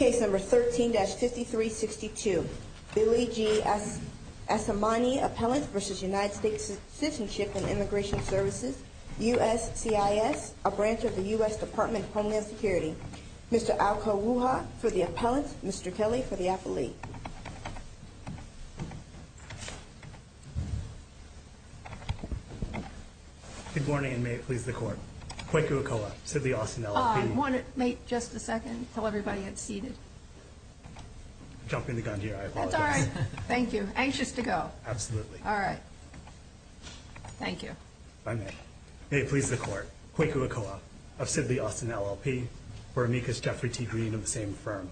and Immigration Services, USCIS, a branch of the U.S. Department of Homeland Security. Mr. Alko Wuha for the appellant, Mr. Kelly for the appellee. Good morning, and may it please the Court. Kweku Okoha, city of Austin, L.A. May it just a second? Jumping the gun here, I apologize. That's all right. Thank you. Anxious to go. Absolutely. All right. Thank you. If I may. May it please the Court. Kweku Okoha of Sidley, Austin, LLP for amicus Jeffrey T. Green of the same firm.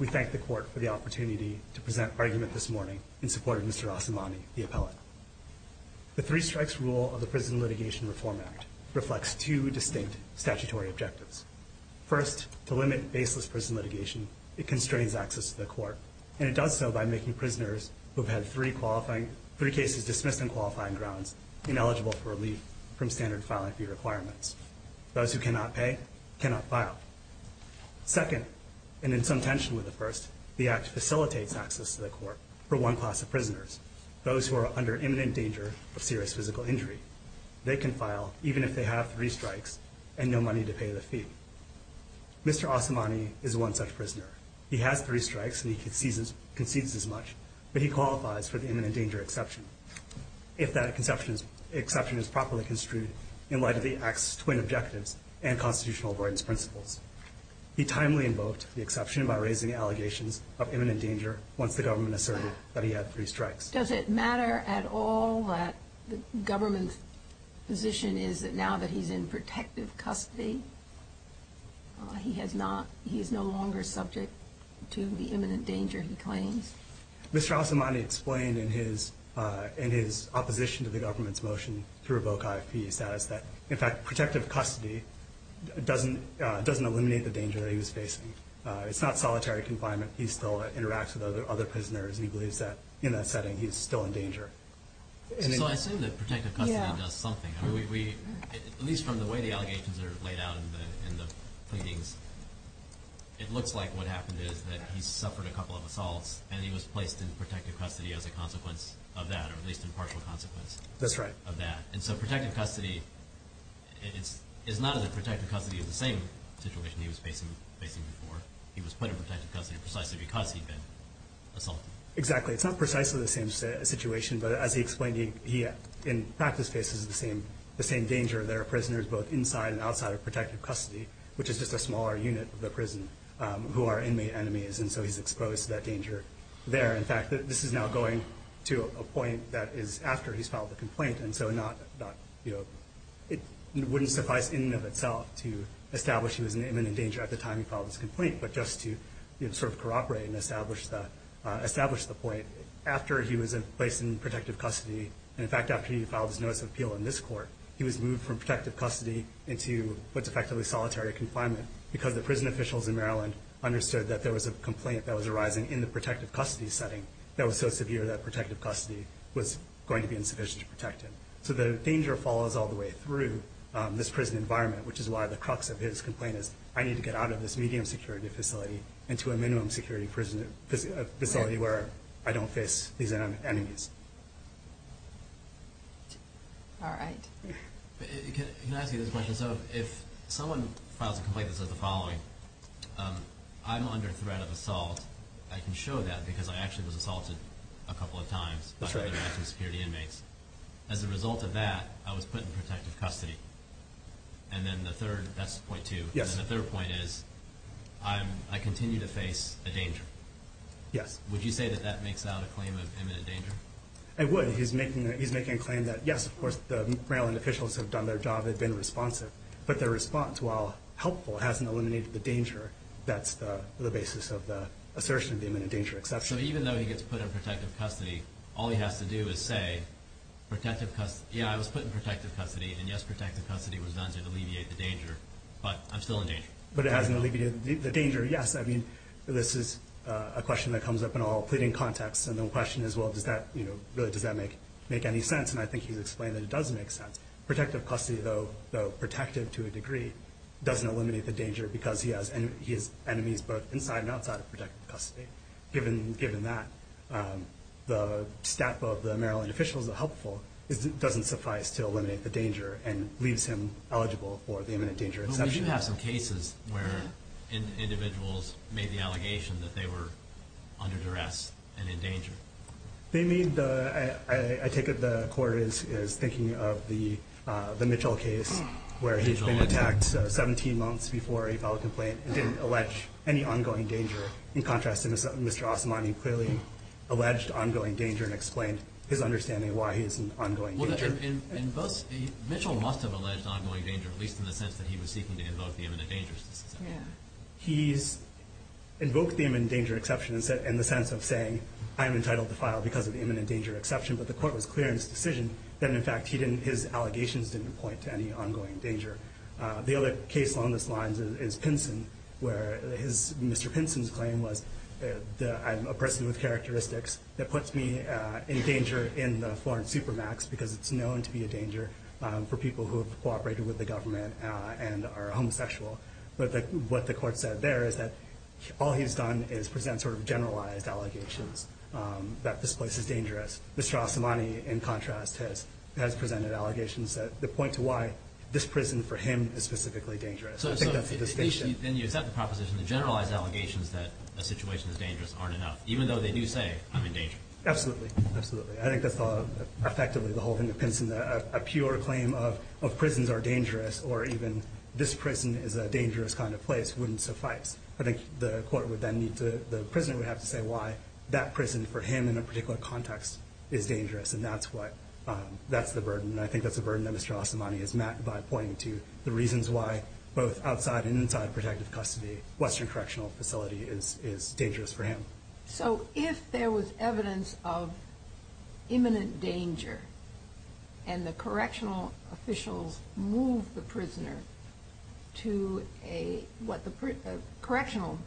We thank the Court for the opportunity to present argument this morning in support of Mr. Asemani, the appellant. The three strikes rule of the Prison Litigation Reform Act reflects two distinct statutory objectives. First, to limit baseless prison litigation, it constrains access to the court, and it does so by making prisoners who have had three cases dismissed on qualifying grounds ineligible for relief from standard filing fee requirements. Those who cannot pay cannot file. Second, and in some tension with the first, the Act facilitates access to the court for one class of prisoners, those who are under imminent danger of serious physical injury. They can file even if they have three strikes and no money to pay the fee. Mr. Asemani is one such prisoner. He has three strikes and he concedes as much, but he qualifies for the imminent danger exception if that exception is properly construed in light of the Act's twin objectives and constitutional avoidance principles. He timely invoked the exception by raising allegations of imminent danger once the government asserted that he had three strikes. Does it matter at all that the government's position is that now that he's in protective custody, he is no longer subject to the imminent danger he claims? Mr. Asemani explained in his opposition to the government's motion to revoke IFP status that, in fact, protective custody doesn't eliminate the danger that he was facing. It's not solitary confinement. He still interacts with other prisoners. He believes that in that setting he is still in danger. So I assume that protective custody does something. At least from the way the allegations are laid out in the pleadings, it looks like what happened is that he suffered a couple of assaults and he was placed in protective custody as a consequence of that, or at least in partial consequence of that. That's right. And so protective custody is not as if protective custody is the same situation he was facing before. He was put in protective custody precisely because he'd been assaulted. Exactly. It's not precisely the same situation, but as he explained, he in practice faces the same danger that are prisoners both inside and outside of protective custody, which is just a smaller unit of the prison who are inmate enemies, and so he's exposed to that danger there. In fact, this is now going to a point that is after he's filed the complaint, and so it wouldn't suffice in and of itself to establish he was in imminent danger at the time he filed his complaint, but just to sort of corroborate and establish the point. After he was placed in protective custody, and in fact after he filed his notice of appeal in this court, he was moved from protective custody into what's effectively solitary confinement because the prison officials in Maryland understood that there was a complaint that was arising in the protective custody setting that was so severe that protective custody was going to be insufficient to protect him. So the danger follows all the way through this prison environment, which is why the crux of his complaint is I need to get out of this medium-security facility into a minimum-security facility where I don't face these enemies. All right. Can I ask you this question? So if someone files a complaint that says the following, I'm under threat of assault. I can show that because I actually was assaulted a couple of times by other active security inmates. As a result of that, I was put in protective custody. And then the third, that's point two, and the third point is I continue to face a danger. Yes. Would you say that that makes out a claim of imminent danger? I would. He's making a claim that, yes, of course, the Maryland officials have done their job. They've been responsive. But their response, while helpful, hasn't eliminated the danger. That's the basis of the assertion of the imminent danger exception. So even though he gets put in protective custody, all he has to do is say, yeah, I was put in protective custody, and, yes, protective custody was done to alleviate the danger, but I'm still in danger. But it hasn't alleviated the danger, yes. I mean, this is a question that comes up in all pleading contexts. And the question is, well, does that make any sense? And I think he's explained that it does make sense. Protective custody, though protective to a degree, doesn't eliminate the danger because he has enemies both inside and outside of protective custody. Given that, the staff of the Maryland officials are helpful. It doesn't suffice to eliminate the danger and leaves him eligible for the imminent danger exception. But we do have some cases where individuals made the allegation that they were under duress and in danger. I take it the Court is thinking of the Mitchell case where he's been attacked 17 months before a filed complaint and didn't allege any ongoing danger. In contrast, Mr. Osamani clearly alleged ongoing danger and explained his understanding of why he's in ongoing danger. Mitchell must have alleged ongoing danger, at least in the sense that he was seeking to invoke the imminent danger exception. He's invoked the imminent danger exception in the sense of saying, I am entitled to file because of the imminent danger exception, but the Court was clear in its decision that, in fact, his allegations didn't point to any ongoing danger. The other case along those lines is Pinson, where Mr. Pinson's claim was, I'm a person with characteristics that puts me in danger in the foreign supermax because it's known to be a danger for people who have cooperated with the government and are homosexual. But what the Court said there is that all he's done is present sort of generalized allegations that this place is dangerous. Mr. Osamani, in contrast, has presented allegations that point to why this prison for him is specifically dangerous. I think that's the distinction. So then you accept the proposition that generalized allegations that a situation is dangerous aren't enough, even though they do say, I'm in danger. Absolutely. Absolutely. I think the thought of effectively the whole thing of Pinson, a pure claim of prisons are dangerous or even this prison is a dangerous kind of place wouldn't suffice. I think the Court would then need to, the prisoner would have to say why that prison for him in a particular context is dangerous, and that's what, that's the burden, and I think that's the burden that Mr. Osamani has met by pointing to the reasons why both outside and inside protective custody, Western Correctional Facility is dangerous for him. So if there was evidence of imminent danger and the correctional officials moved the prisoner to what the correctional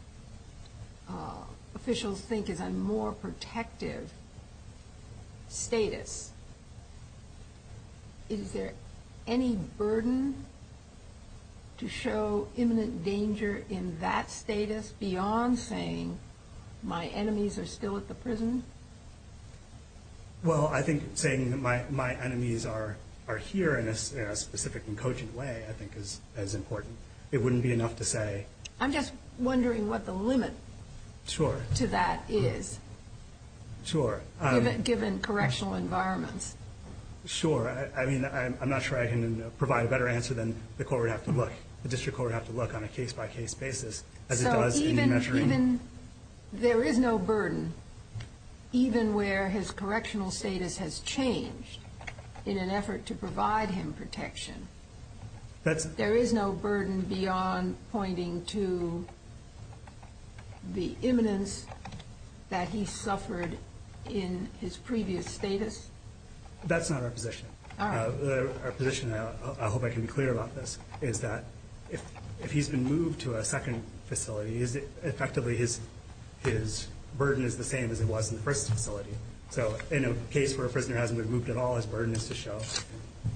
officials think is a more protective status, is there any burden to show imminent danger in that status beyond saying my enemies are still at the prison? Well, I think saying that my enemies are here in a specific and cogent way I think is important. It wouldn't be enough to say. I'm just wondering what the limit to that is. Sure. Given correctional environments. Sure. I mean, I'm not sure I can provide a better answer than the District Court would have to look on a case-by-case basis. So even there is no burden, even where his correctional status has changed in an effort to provide him protection, there is no burden beyond pointing to the imminence that he suffered in his previous status? That's not our position. Our position, and I hope I can be clear about this, is that if he's been moved to a second facility, effectively his burden is the same as it was in the first facility. So in a case where a prisoner hasn't been moved at all, his burden is to show,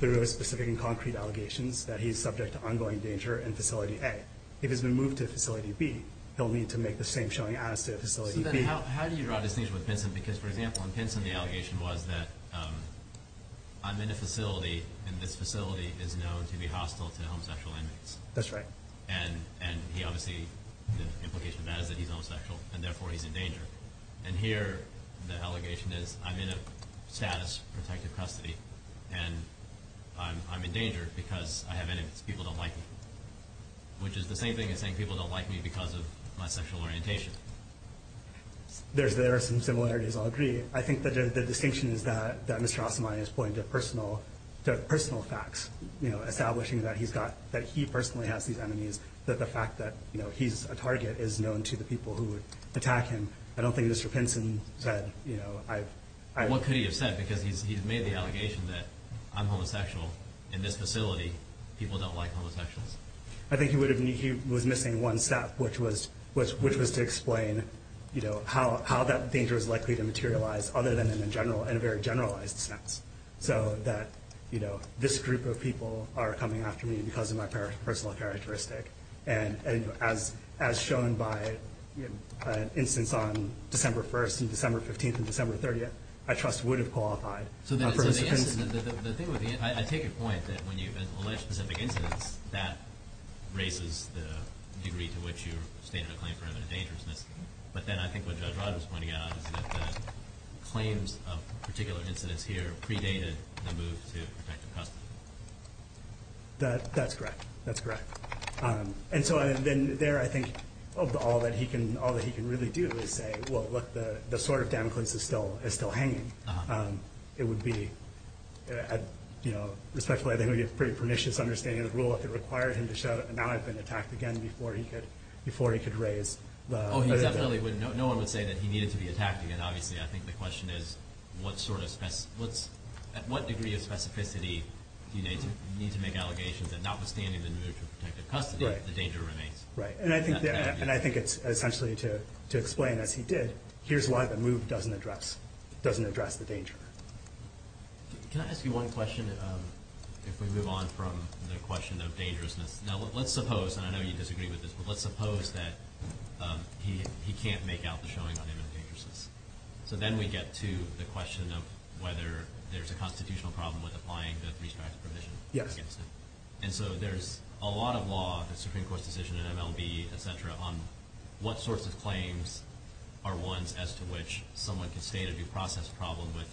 through those specific and concrete allegations, that he's subject to ongoing danger in Facility A. If he's been moved to Facility B, he'll need to make the same showing as to Facility B. So then how do you draw a distinction with Pinson? Because, for example, in Pinson the allegation was that I'm in a facility, and this facility is known to be hostile to homosexual inmates. That's right. And he obviously, the implication of that is that he's homosexual, and therefore he's in danger. And here the allegation is I'm in a status protective custody, and I'm in danger because I have enemies. People don't like me. Which is the same thing as saying people don't like me because of my sexual orientation. There are some similarities. I'll agree. I think the distinction is that Mr. Asamani is pointing to personal facts, establishing that he personally has these enemies, that the fact that he's a target is known to the people who attack him, and I don't think Mr. Pinson said... What could he have said? Because he's made the allegation that I'm homosexual in this facility. People don't like homosexuals. I think he was missing one step, which was to explain how that danger is likely to materialize other than in a very generalized sense, so that this group of people are coming after me because of my personal characteristic. And as shown by an instance on December 1st and December 15th and December 30th, I trust would have qualified. I take your point that when you've alleged specific incidents, that raises the degree to which you're stating a claim for imminent dangerousness. But then I think what Judge Rod was pointing out is that claims of particular incidents here predated the move to protective custody. That's correct. That's correct. And so there I think all that he can really do is say, well, look, the sword of Damocles is still hanging. It would be, respectfully, I think it would be a pretty pernicious understanding of the rule if it required him to show that now I've been attacked again before he could raise the... Oh, he definitely wouldn't. No one would say that he needed to be attacked again, obviously. I think the question is at what degree of specificity do you need to make allegations that notwithstanding the move to protective custody, the danger remains? Right. And I think it's essentially to explain, as he did, here's why the move doesn't address the danger. Can I ask you one question if we move on from the question of dangerousness? Now, let's suppose, and I know you disagree with this, but let's suppose that he can't make out the showing of him in dangerousness. So then we get to the question of whether there's a constitutional problem with applying the three-strike provision against him. Yes. And so there's a lot of law, the Supreme Court's decision in MLB, et cetera, on what sorts of claims are ones as to which someone can state a due process problem with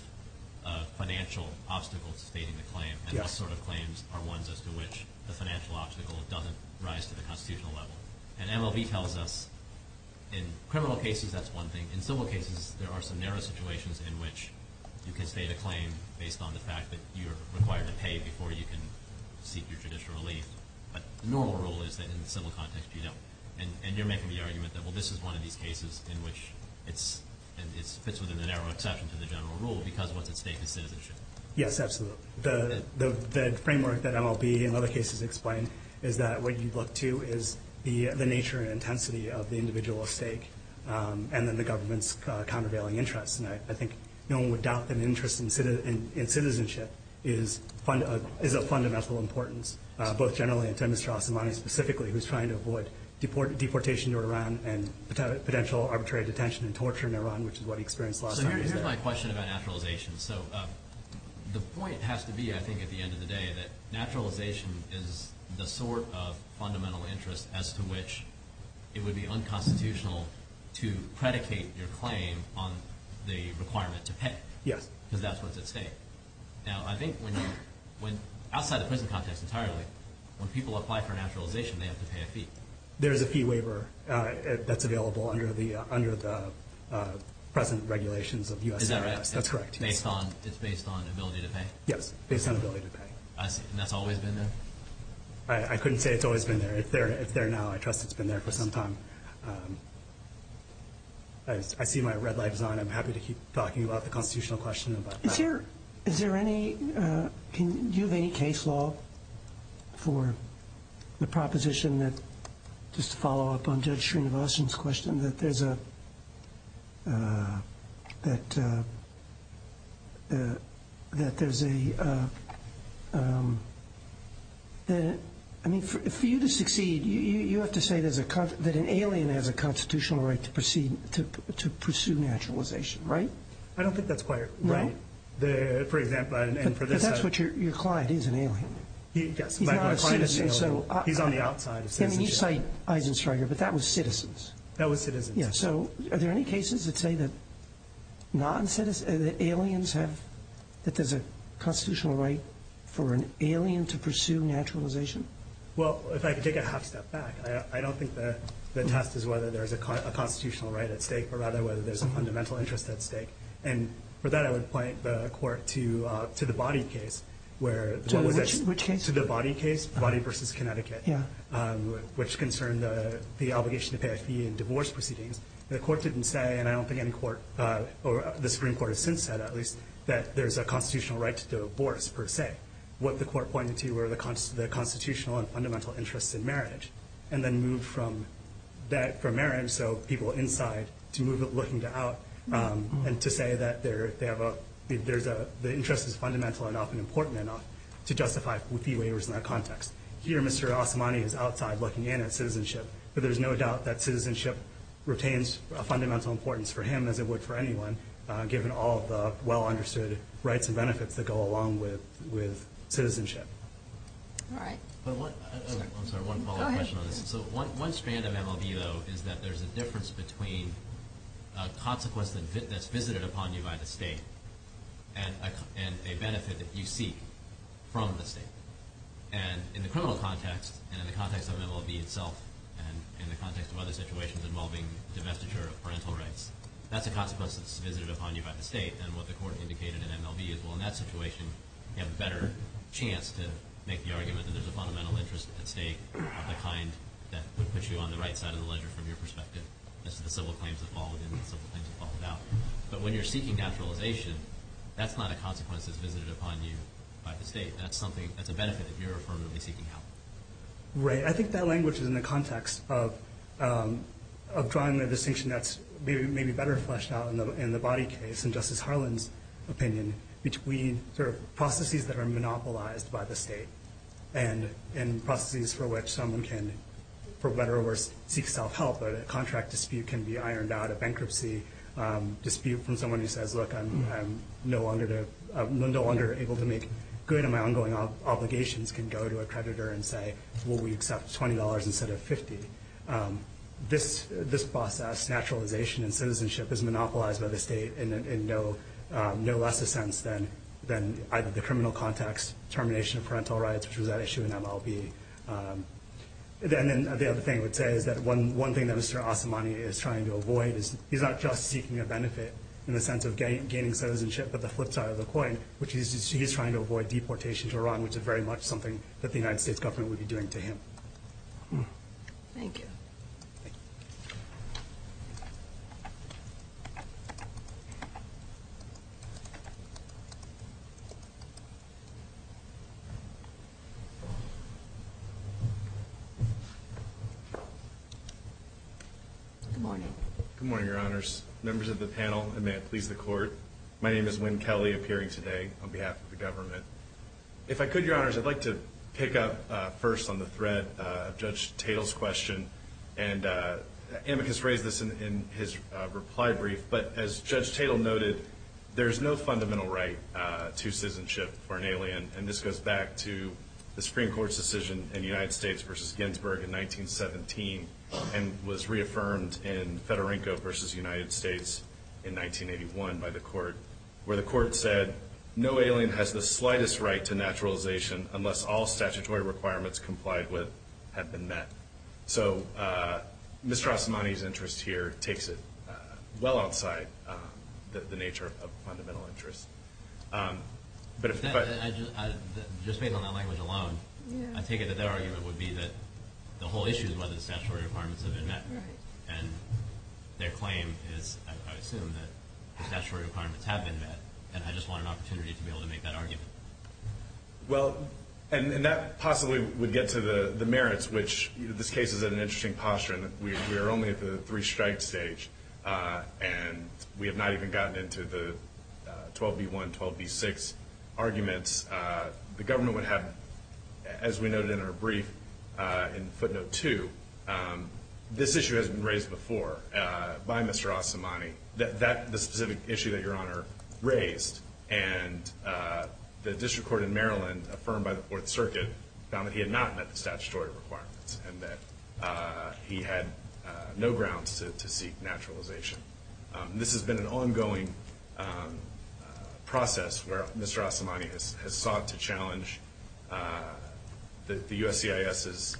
financial obstacles stating the claim and what sort of claims are ones as to which the financial obstacle doesn't rise to the constitutional level. And MLB tells us in criminal cases, that's one thing. In civil cases, there are some narrow situations in which you can state a claim based on the fact that you're required to pay before you can seek your judicial relief. But the normal rule is that in the civil context, you don't. And you're making the argument that, well, this is one of these cases in which it fits within the narrow exception to the general rule because what's at stake is citizenship. Yes, absolutely. The framework that MLB in other cases explained is that what you look to is the nature and intensity of the individual at stake and then the government's countervailing interests. And I think no one would doubt that an interest in citizenship is of fundamental importance, both generally and to Mr. Asimov specifically, who's trying to avoid deportation to Iran and potential arbitrary detention and torture in Iran, which is what he experienced last time he was there. This is my question about naturalization. So the point has to be, I think, at the end of the day, that naturalization is the sort of fundamental interest as to which it would be unconstitutional to predicate your claim on the requirement to pay. Yes. Because that's what's at stake. Now, I think outside the prison context entirely, when people apply for naturalization, they have to pay a fee. There is a fee waiver that's available under the present regulations of U.S. IRS. Is that right? That's correct. It's based on ability to pay? Yes, based on ability to pay. And that's always been there? I couldn't say it's always been there. If they're now, I trust it's been there for some time. I see my red light is on. I'm happy to keep talking about the constitutional question. Do you have any case law for the proposition that, just to follow up on Judge Srinivasan's question, that for you to succeed, you have to say that an alien has a constitutional right to pursue naturalization, right? I don't think that's quite right. No? For example, and for this side. But that's what your client is, an alien. Yes. My client is an alien. He's on the outside of citizenship. I mean, you cite Eisensteiger, but that was citizens. That was citizens. Yes. So are there any cases that say that aliens have, that there's a constitutional right for an alien to pursue naturalization? Well, if I could take a half step back, I don't think the test is whether there's a constitutional right at stake, but rather whether there's a fundamental interest at stake. And for that, I would point the Court to the Boddy case. To which case? To the Boddy case, Boddy v. Connecticut, which concerned the obligation to pay a fee in divorce proceedings. The Court didn't say, and I don't think any court or the Supreme Court has since said, at least, that there's a constitutional right to divorce, per se. What the Court pointed to were the constitutional and fundamental interests in marriage, and then moved from marriage, so people inside, to looking to out, and to say that the interest is fundamental enough and important enough to justify fee waivers in that context. Here, Mr. Osamani is outside looking in at citizenship, but there's no doubt that citizenship retains a fundamental importance for him as it would for anyone, given all the well-understood rights and benefits that go along with citizenship. All right. I'm sorry, one follow-up question on this. Go ahead. One strand of MLB, though, is that there's a difference between a consequence that's visited upon you by the State and a benefit that you seek from the State. And in the criminal context, and in the context of MLB itself, and in the context of other situations involving divestiture of parental rights, that's a consequence that's visited upon you by the State, and what the Court indicated in MLB is, well, in that situation, you have a better chance to make the argument that there's a fundamental interest at stake of the kind that would put you on the right side of the ledger from your perspective, as to the civil claims that fall within and the civil claims that fall without. But when you're seeking naturalization, that's not a consequence that's visited upon you by the State. That's a benefit that you're affirmatively seeking out. Right. I think that language is in the context of drawing the distinction that's maybe better fleshed out in the body case, in Justice Harlan's opinion, between sort of processes that are monopolized by the State and processes for which someone can, for better or worse, seek self-help. A contract dispute can be ironed out, a bankruptcy dispute from someone who says, look, I'm no longer able to make good and my ongoing obligations can go to a creditor and say, well, we accept $20 instead of $50. This process, naturalization and citizenship, is monopolized by the State in no lesser sense than either the criminal context, termination of parental rights, which was at issue in MLB. Then the other thing I would say is that one thing that Mr. Osamani is trying to avoid is he's not just seeking a benefit in the sense of gaining citizenship, but the flip side of the coin, which is very much something that the United States government would be doing to him. Thank you. Good morning. Good morning, Your Honors. Members of the panel, and may it please the Court, my name is Winn Kelley, appearing today on behalf of the government. If I could, Your Honors, I'd like to pick up first on the thread of Judge Tatel's question. Amicus raised this in his reply brief, but as Judge Tatel noted, there is no fundamental right to citizenship for an alien, and this goes back to the Supreme Court's decision in the United States versus Ginsburg in 1917 and was reaffirmed in Federico versus United States in 1981 by the Court, where the Court said no alien has the slightest right to naturalization unless all statutory requirements complied with have been met. So Mr. Osamani's interest here takes it well outside the nature of fundamental interest. Just based on that language alone, I take it that their argument would be that the whole issue is whether the statutory requirements have been met, and their claim is, I assume, that the statutory requirements have been met, and I just want an opportunity to be able to make that argument. Well, and that possibly would get to the merits, which this case is in an interesting posture in that we are only at the three-strike stage and we have not even gotten into the 12B1, 12B6 arguments. The government would have, as we noted in our brief in footnote two, this issue has been raised before by Mr. Osamani, the specific issue that Your Honor raised, and the district court in Maryland, affirmed by the Fourth Circuit, found that he had not met the statutory requirements and that he had no grounds to seek naturalization. This has been an ongoing process where Mr. Osamani has sought to challenge the USCIS's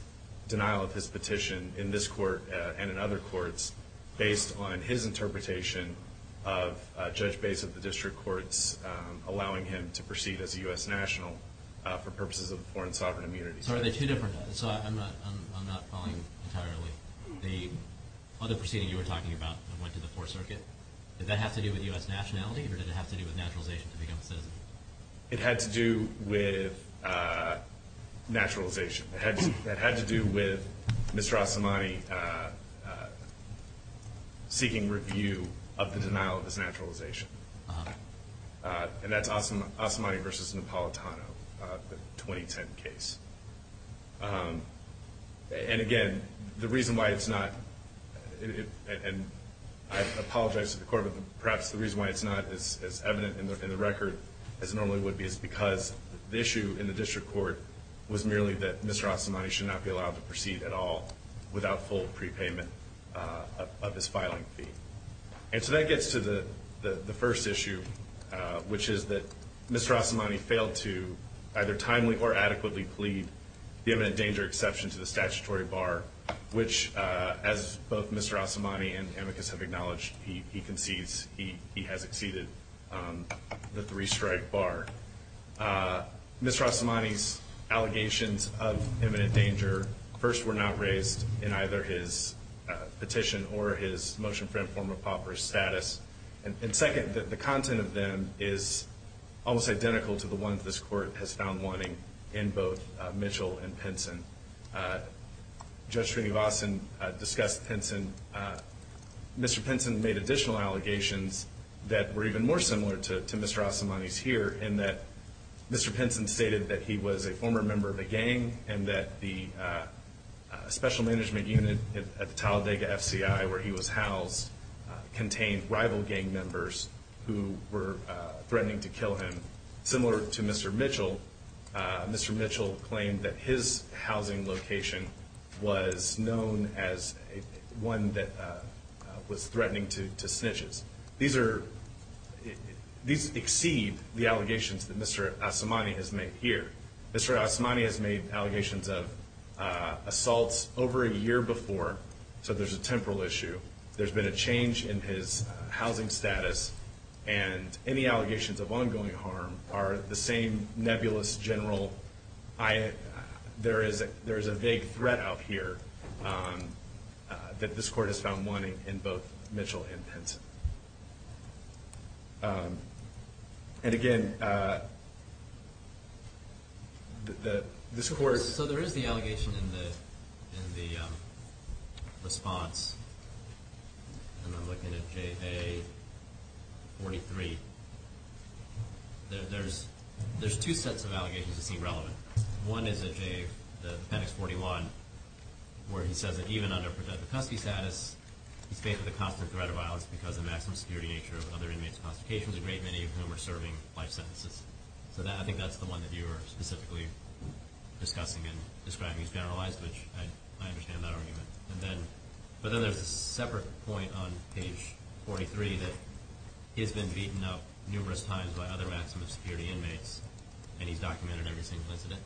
denial of his petition in this court and in other courts based on his interpretation of Judge Bace of the district courts allowing him to proceed as a U.S. national for purposes of foreign sovereign immunity. So are they two different? I'm not following entirely. The other proceeding you were talking about that went to the Fourth Circuit, did that have to do with U.S. nationality or did it have to do with naturalization to become a citizen? It had to do with naturalization. It had to do with Mr. Osamani seeking review of the denial of his naturalization. And that's Osamani v. Napolitano, the 2010 case. And again, the reason why it's not, and I apologize to the court, but perhaps the reason why it's not as evident in the record as it normally would be is because the issue in the district court was merely that Mr. Osamani should not be allowed to proceed at all without full prepayment of his filing fee. And so that gets to the first issue, which is that Mr. Osamani failed to either timely or adequately plead the imminent danger exception to the statutory bar, which, as both Mr. Osamani and amicus have acknowledged, he concedes he has exceeded the three-strike bar. Mr. Osamani's allegations of imminent danger, first, were not raised in either his petition or his motion for informal pauper status. And second, the content of them is almost identical to the ones this court has found wanting in both Mitchell and Pinson. Judge Srinivasan discussed Pinson. Mr. Pinson made additional allegations that were even more similar to Mr. Osamani's here in that Mr. Pinson stated that he was a former member of a gang and that the special management unit at the Talladega FCI, where he was housed, contained rival gang members who were threatening to kill him. Similar to Mr. Mitchell, Mr. Mitchell claimed that his housing location was known as one that was threatening to snitches. These exceed the allegations that Mr. Osamani has made here. Mr. Osamani has made allegations of assaults over a year before, so there's a temporal issue. There's been a change in his housing status, and any allegations of ongoing harm are the same nebulous, general, there is a vague threat out here that this court has found wanting in both Mitchell and Pinson. And again, this court... So there is the allegation in the response, and I'm looking at JA-43. There's two sets of allegations to see relevant. One is the appendix 41, where he says that even under protective custody status, he's faced with a constant threat of violence because of the maximum security nature of other inmates' constrictions, a great many of whom are serving life sentences. So I think that's the one that you were specifically discussing and describing as generalized, which I understand that argument. But then there's a separate point on page 43 that he has been beaten up numerous times by other maximum security inmates, and he's documented every single incident.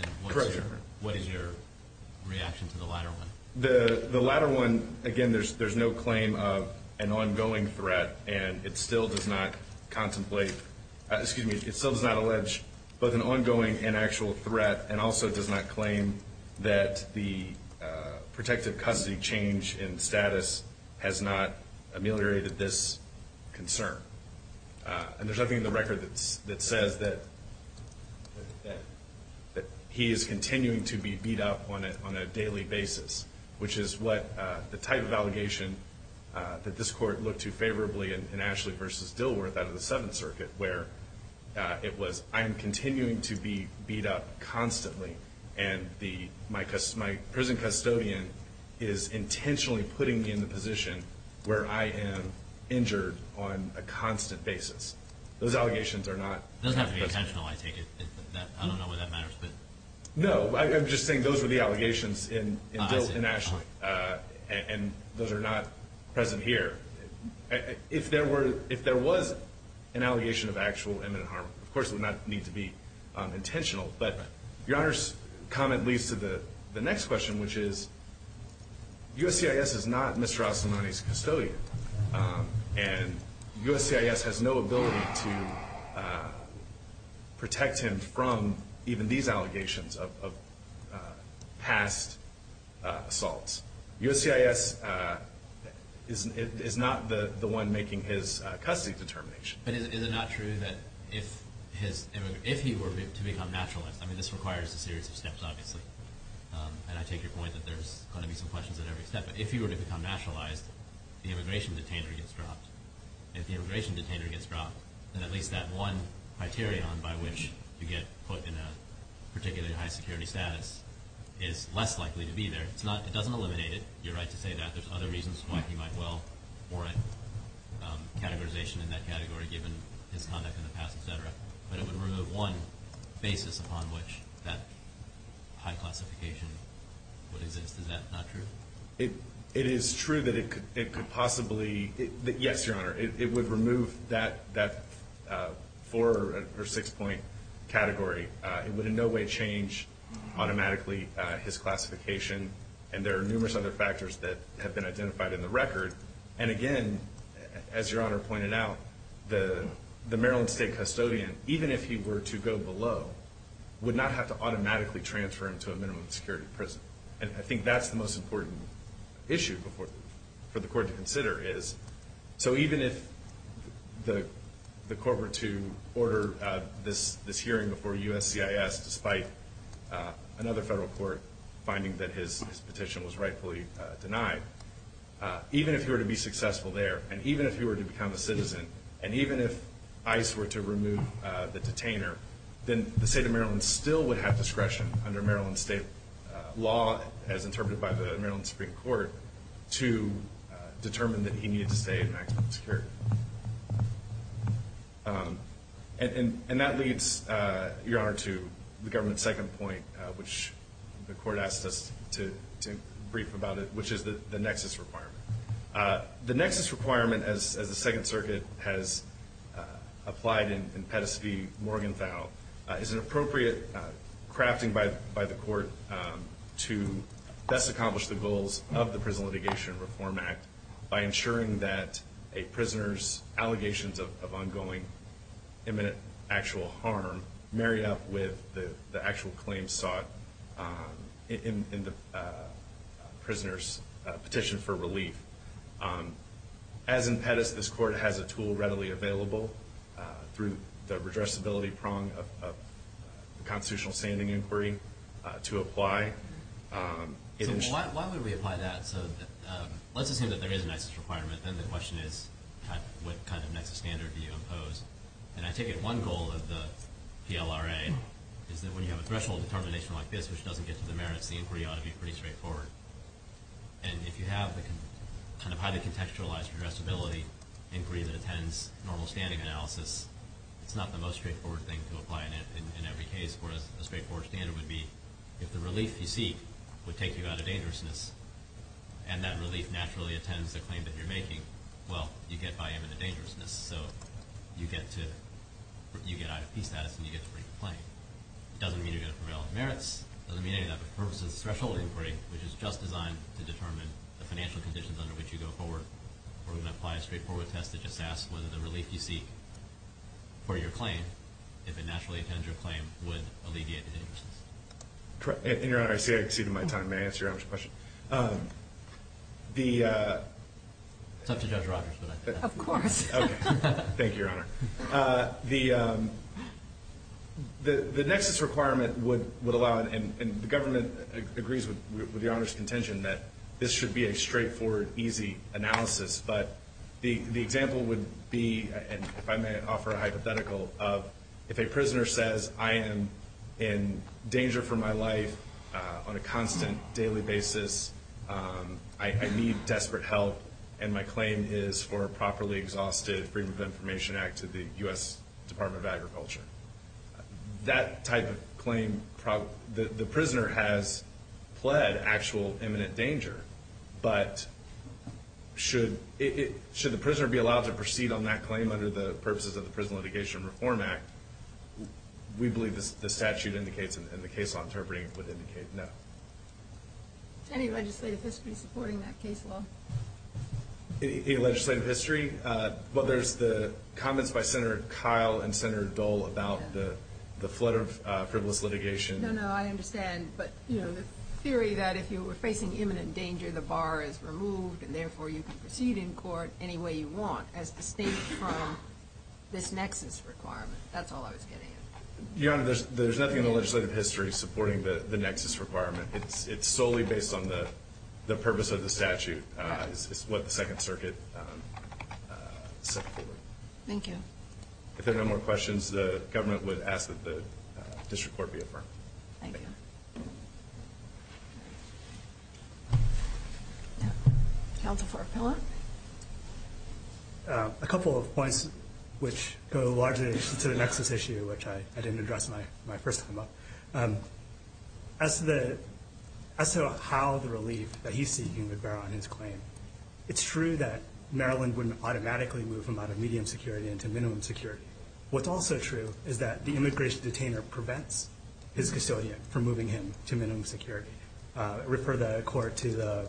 And what is your reaction to the latter one? The latter one, again, there's no claim of an ongoing threat, and it still does not contemplate, excuse me, it still does not allege both an ongoing and actual threat, and also does not claim that the protective custody change in status has not ameliorated this concern. And there's nothing in the record that says that he is continuing to be beat up on a daily basis, which is what the type of allegation that this court looked to favorably in Ashley v. Dilworth out of the Seventh Circuit, where it was, I am continuing to be beat up constantly, and my prison custodian is intentionally putting me in the position where I am injured on a constant basis. Those allegations are not present. It doesn't have to be intentional, I take it. I don't know why that matters. No, I'm just saying those were the allegations in Dilworth and Ashley, and those are not present here. If there was an allegation of actual imminent harm, of course it would not need to be intentional. But Your Honor's comment leads to the next question, which is USCIS is not Mr. Rosselmoni's custodian, and USCIS has no ability to protect him from even these allegations of past assaults. USCIS is not the one making his custody determination. But is it not true that if he were to become nationalized, I mean this requires a series of steps obviously, and I take your point that there's going to be some questions at every step, but if he were to become nationalized, the immigration detainer gets dropped. If the immigration detainer gets dropped, then at least that one criterion by which you get put in a particularly high security status is less likely to be there. It doesn't eliminate it. You're right to say that. There's other reasons why he might warrant categorization in that category given his conduct in the past, et cetera. But it would remove one basis upon which that high classification would exist. Is that not true? It is true that it could possibly, yes, Your Honor, it would remove that four or six point category. It would in no way change automatically his classification, and there are numerous other factors that have been identified in the record. And again, as Your Honor pointed out, the Maryland State custodian, even if he were to go below, would not have to automatically transfer him to a minimum security prison. And I think that's the most important issue for the court to consider is, so even if the corporate to order this hearing before USCIS, despite another federal court finding that his petition was rightfully denied, even if he were to be successful there, and even if he were to become a citizen, and even if ICE were to remove the detainer, then the State of Maryland still would have discretion under Maryland State law, as interpreted by the Maryland Supreme Court, to determine that he needed to stay in maximum security. And that leads, Your Honor, to the government's second point, which the court asked us to brief about it, which is the nexus requirement. The nexus requirement, as the Second Circuit has applied in Pettus v. Morgenthau, is an appropriate crafting by the court to best accomplish the goals of the Prison Litigation Reform Act by ensuring that a prisoner's allegations of ongoing imminent actual harm are married up with the actual claims sought in the prisoner's petition for relief. As in Pettus, this court has a tool readily available, through the redressability prong of the constitutional standing inquiry, to apply. So why would we apply that? So let's assume that there is a nexus requirement. Then the question is, what kind of nexus standard do you impose? And I take it one goal of the PLRA is that when you have a threshold determination like this, which doesn't get to the merits, the inquiry ought to be pretty straightforward. And if you have the kind of highly contextualized redressability inquiry that attends normal standing analysis, it's not the most straightforward thing to apply in every case, whereas a straightforward standard would be if the relief you seek would take you out of dangerousness, and that relief naturally attends the claim that you're making, well, you get by imminent dangerousness. So you get out of peace status and you get to bring the claim. It doesn't mean you're going to prevail on merits. It doesn't mean any of that, but the purpose of the threshold inquiry, which is just designed to determine the financial conditions under which you go forward, we're going to apply a straightforward test that just asks whether the relief you seek for your claim, if it naturally attends your claim, would alleviate the dangerousness. In your honor, I see I've exceeded my time. May I ask your honors a question? It's up to Judge Rogers. Of course. Thank you, your honor. The nexus requirement would allow, and the government agrees with your honors' contention, that this should be a straightforward, easy analysis. But the example would be, if I may offer a hypothetical, if a prisoner says, I am in danger for my life on a constant daily basis, I need desperate help, and my claim is for a properly exhausted Freedom of Information Act to the U.S. Department of Agriculture. That type of claim, the prisoner has pled actual imminent danger, but should the prisoner be allowed to proceed on that claim under the purposes of the Prison Litigation Reform Act? We believe the statute indicates, and the case law interpreting it would indicate no. Any legislative history supporting that case law? Any legislative history? Well, there's the comments by Senator Kyle and Senator Dole about the flood of frivolous litigation. No, no, I understand. But the theory that if you were facing imminent danger, the bar is removed, and therefore you can proceed in court any way you want as distinct from this nexus requirement. That's all I was getting at. Your honor, there's nothing in the legislative history supporting the nexus requirement. It's solely based on the purpose of the statute. It's what the Second Circuit set forward. Thank you. If there are no more questions, the government would ask that the district court be affirmed. Thank you. Counsel for appellate? A couple of points which go largely to the nexus issue, which I didn't address my first time up. As to how the relief that he's seeking would bear on his claim, it's true that Maryland wouldn't automatically move him out of medium security into minimum security. What's also true is that the immigration detainer prevents his custodian from moving him to minimum security. Refer the court to the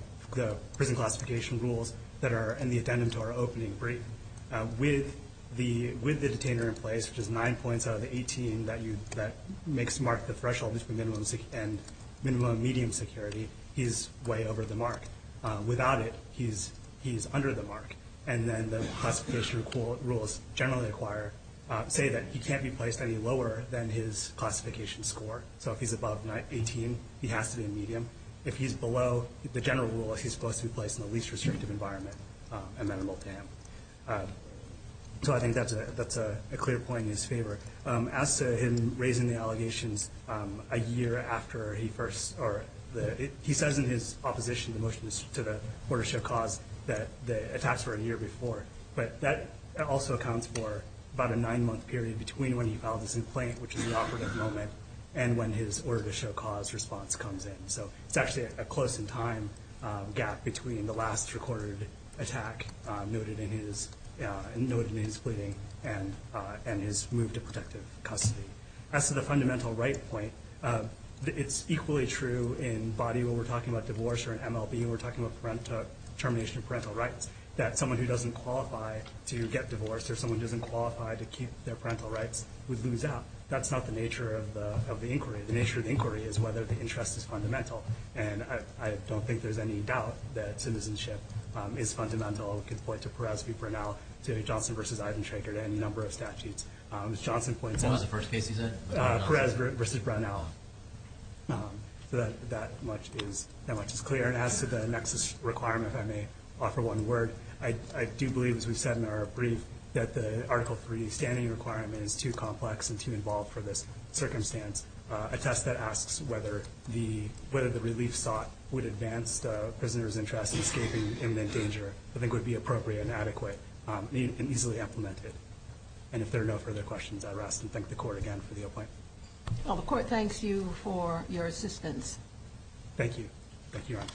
prison classification rules that are in the addendum to our opening brief. With the detainer in place, which is nine points out of the 18 that makes Mark the threshold between minimum and medium security, he's way over the mark. Without it, he's under the mark. And then the classification rules generally say that he can't be placed any lower than his classification score. So if he's above 18, he has to be in medium. If he's below, the general rule is he's supposed to be placed in the least restrictive environment amenable to him. So I think that's a clear point in his favor. As to him raising the allegations a year after he first, or he says in his opposition to the order to show cause that the attacks were a year before. But that also accounts for about a nine-month period between when he filed his complaint, which is the operative moment, and when his order to show cause response comes in. So it's actually a close in time gap between the last recorded attack noted in his pleading and his move to protective custody. As to the fundamental right point, it's equally true in body when we're talking about divorce or in MLB when we're talking about termination of parental rights that someone who doesn't qualify to get divorced or someone who doesn't qualify to keep their parental rights would lose out. That's not the nature of the inquiry. The nature of the inquiry is whether the interest is fundamental. And I don't think there's any doubt that citizenship is fundamental. We could point to Perez v. Brunel, to Johnson v. Eidenschrecker, to any number of statutes. As Johnson points out- What was the first case he said? Perez v. Brunel. That much is clear. And as to the nexus requirement, if I may offer one word, I do believe, as we said in our brief, that the Article III standing requirement is too complex and too involved for this circumstance. A test that asks whether the relief sought would advance the prisoner's interest in escaping imminent danger I think would be appropriate and adequate and easily implemented. And if there are no further questions, I would ask and thank the Court again for the appointment. Well, the Court thanks you for your assistance. Thank you. Thank you, Your Honor.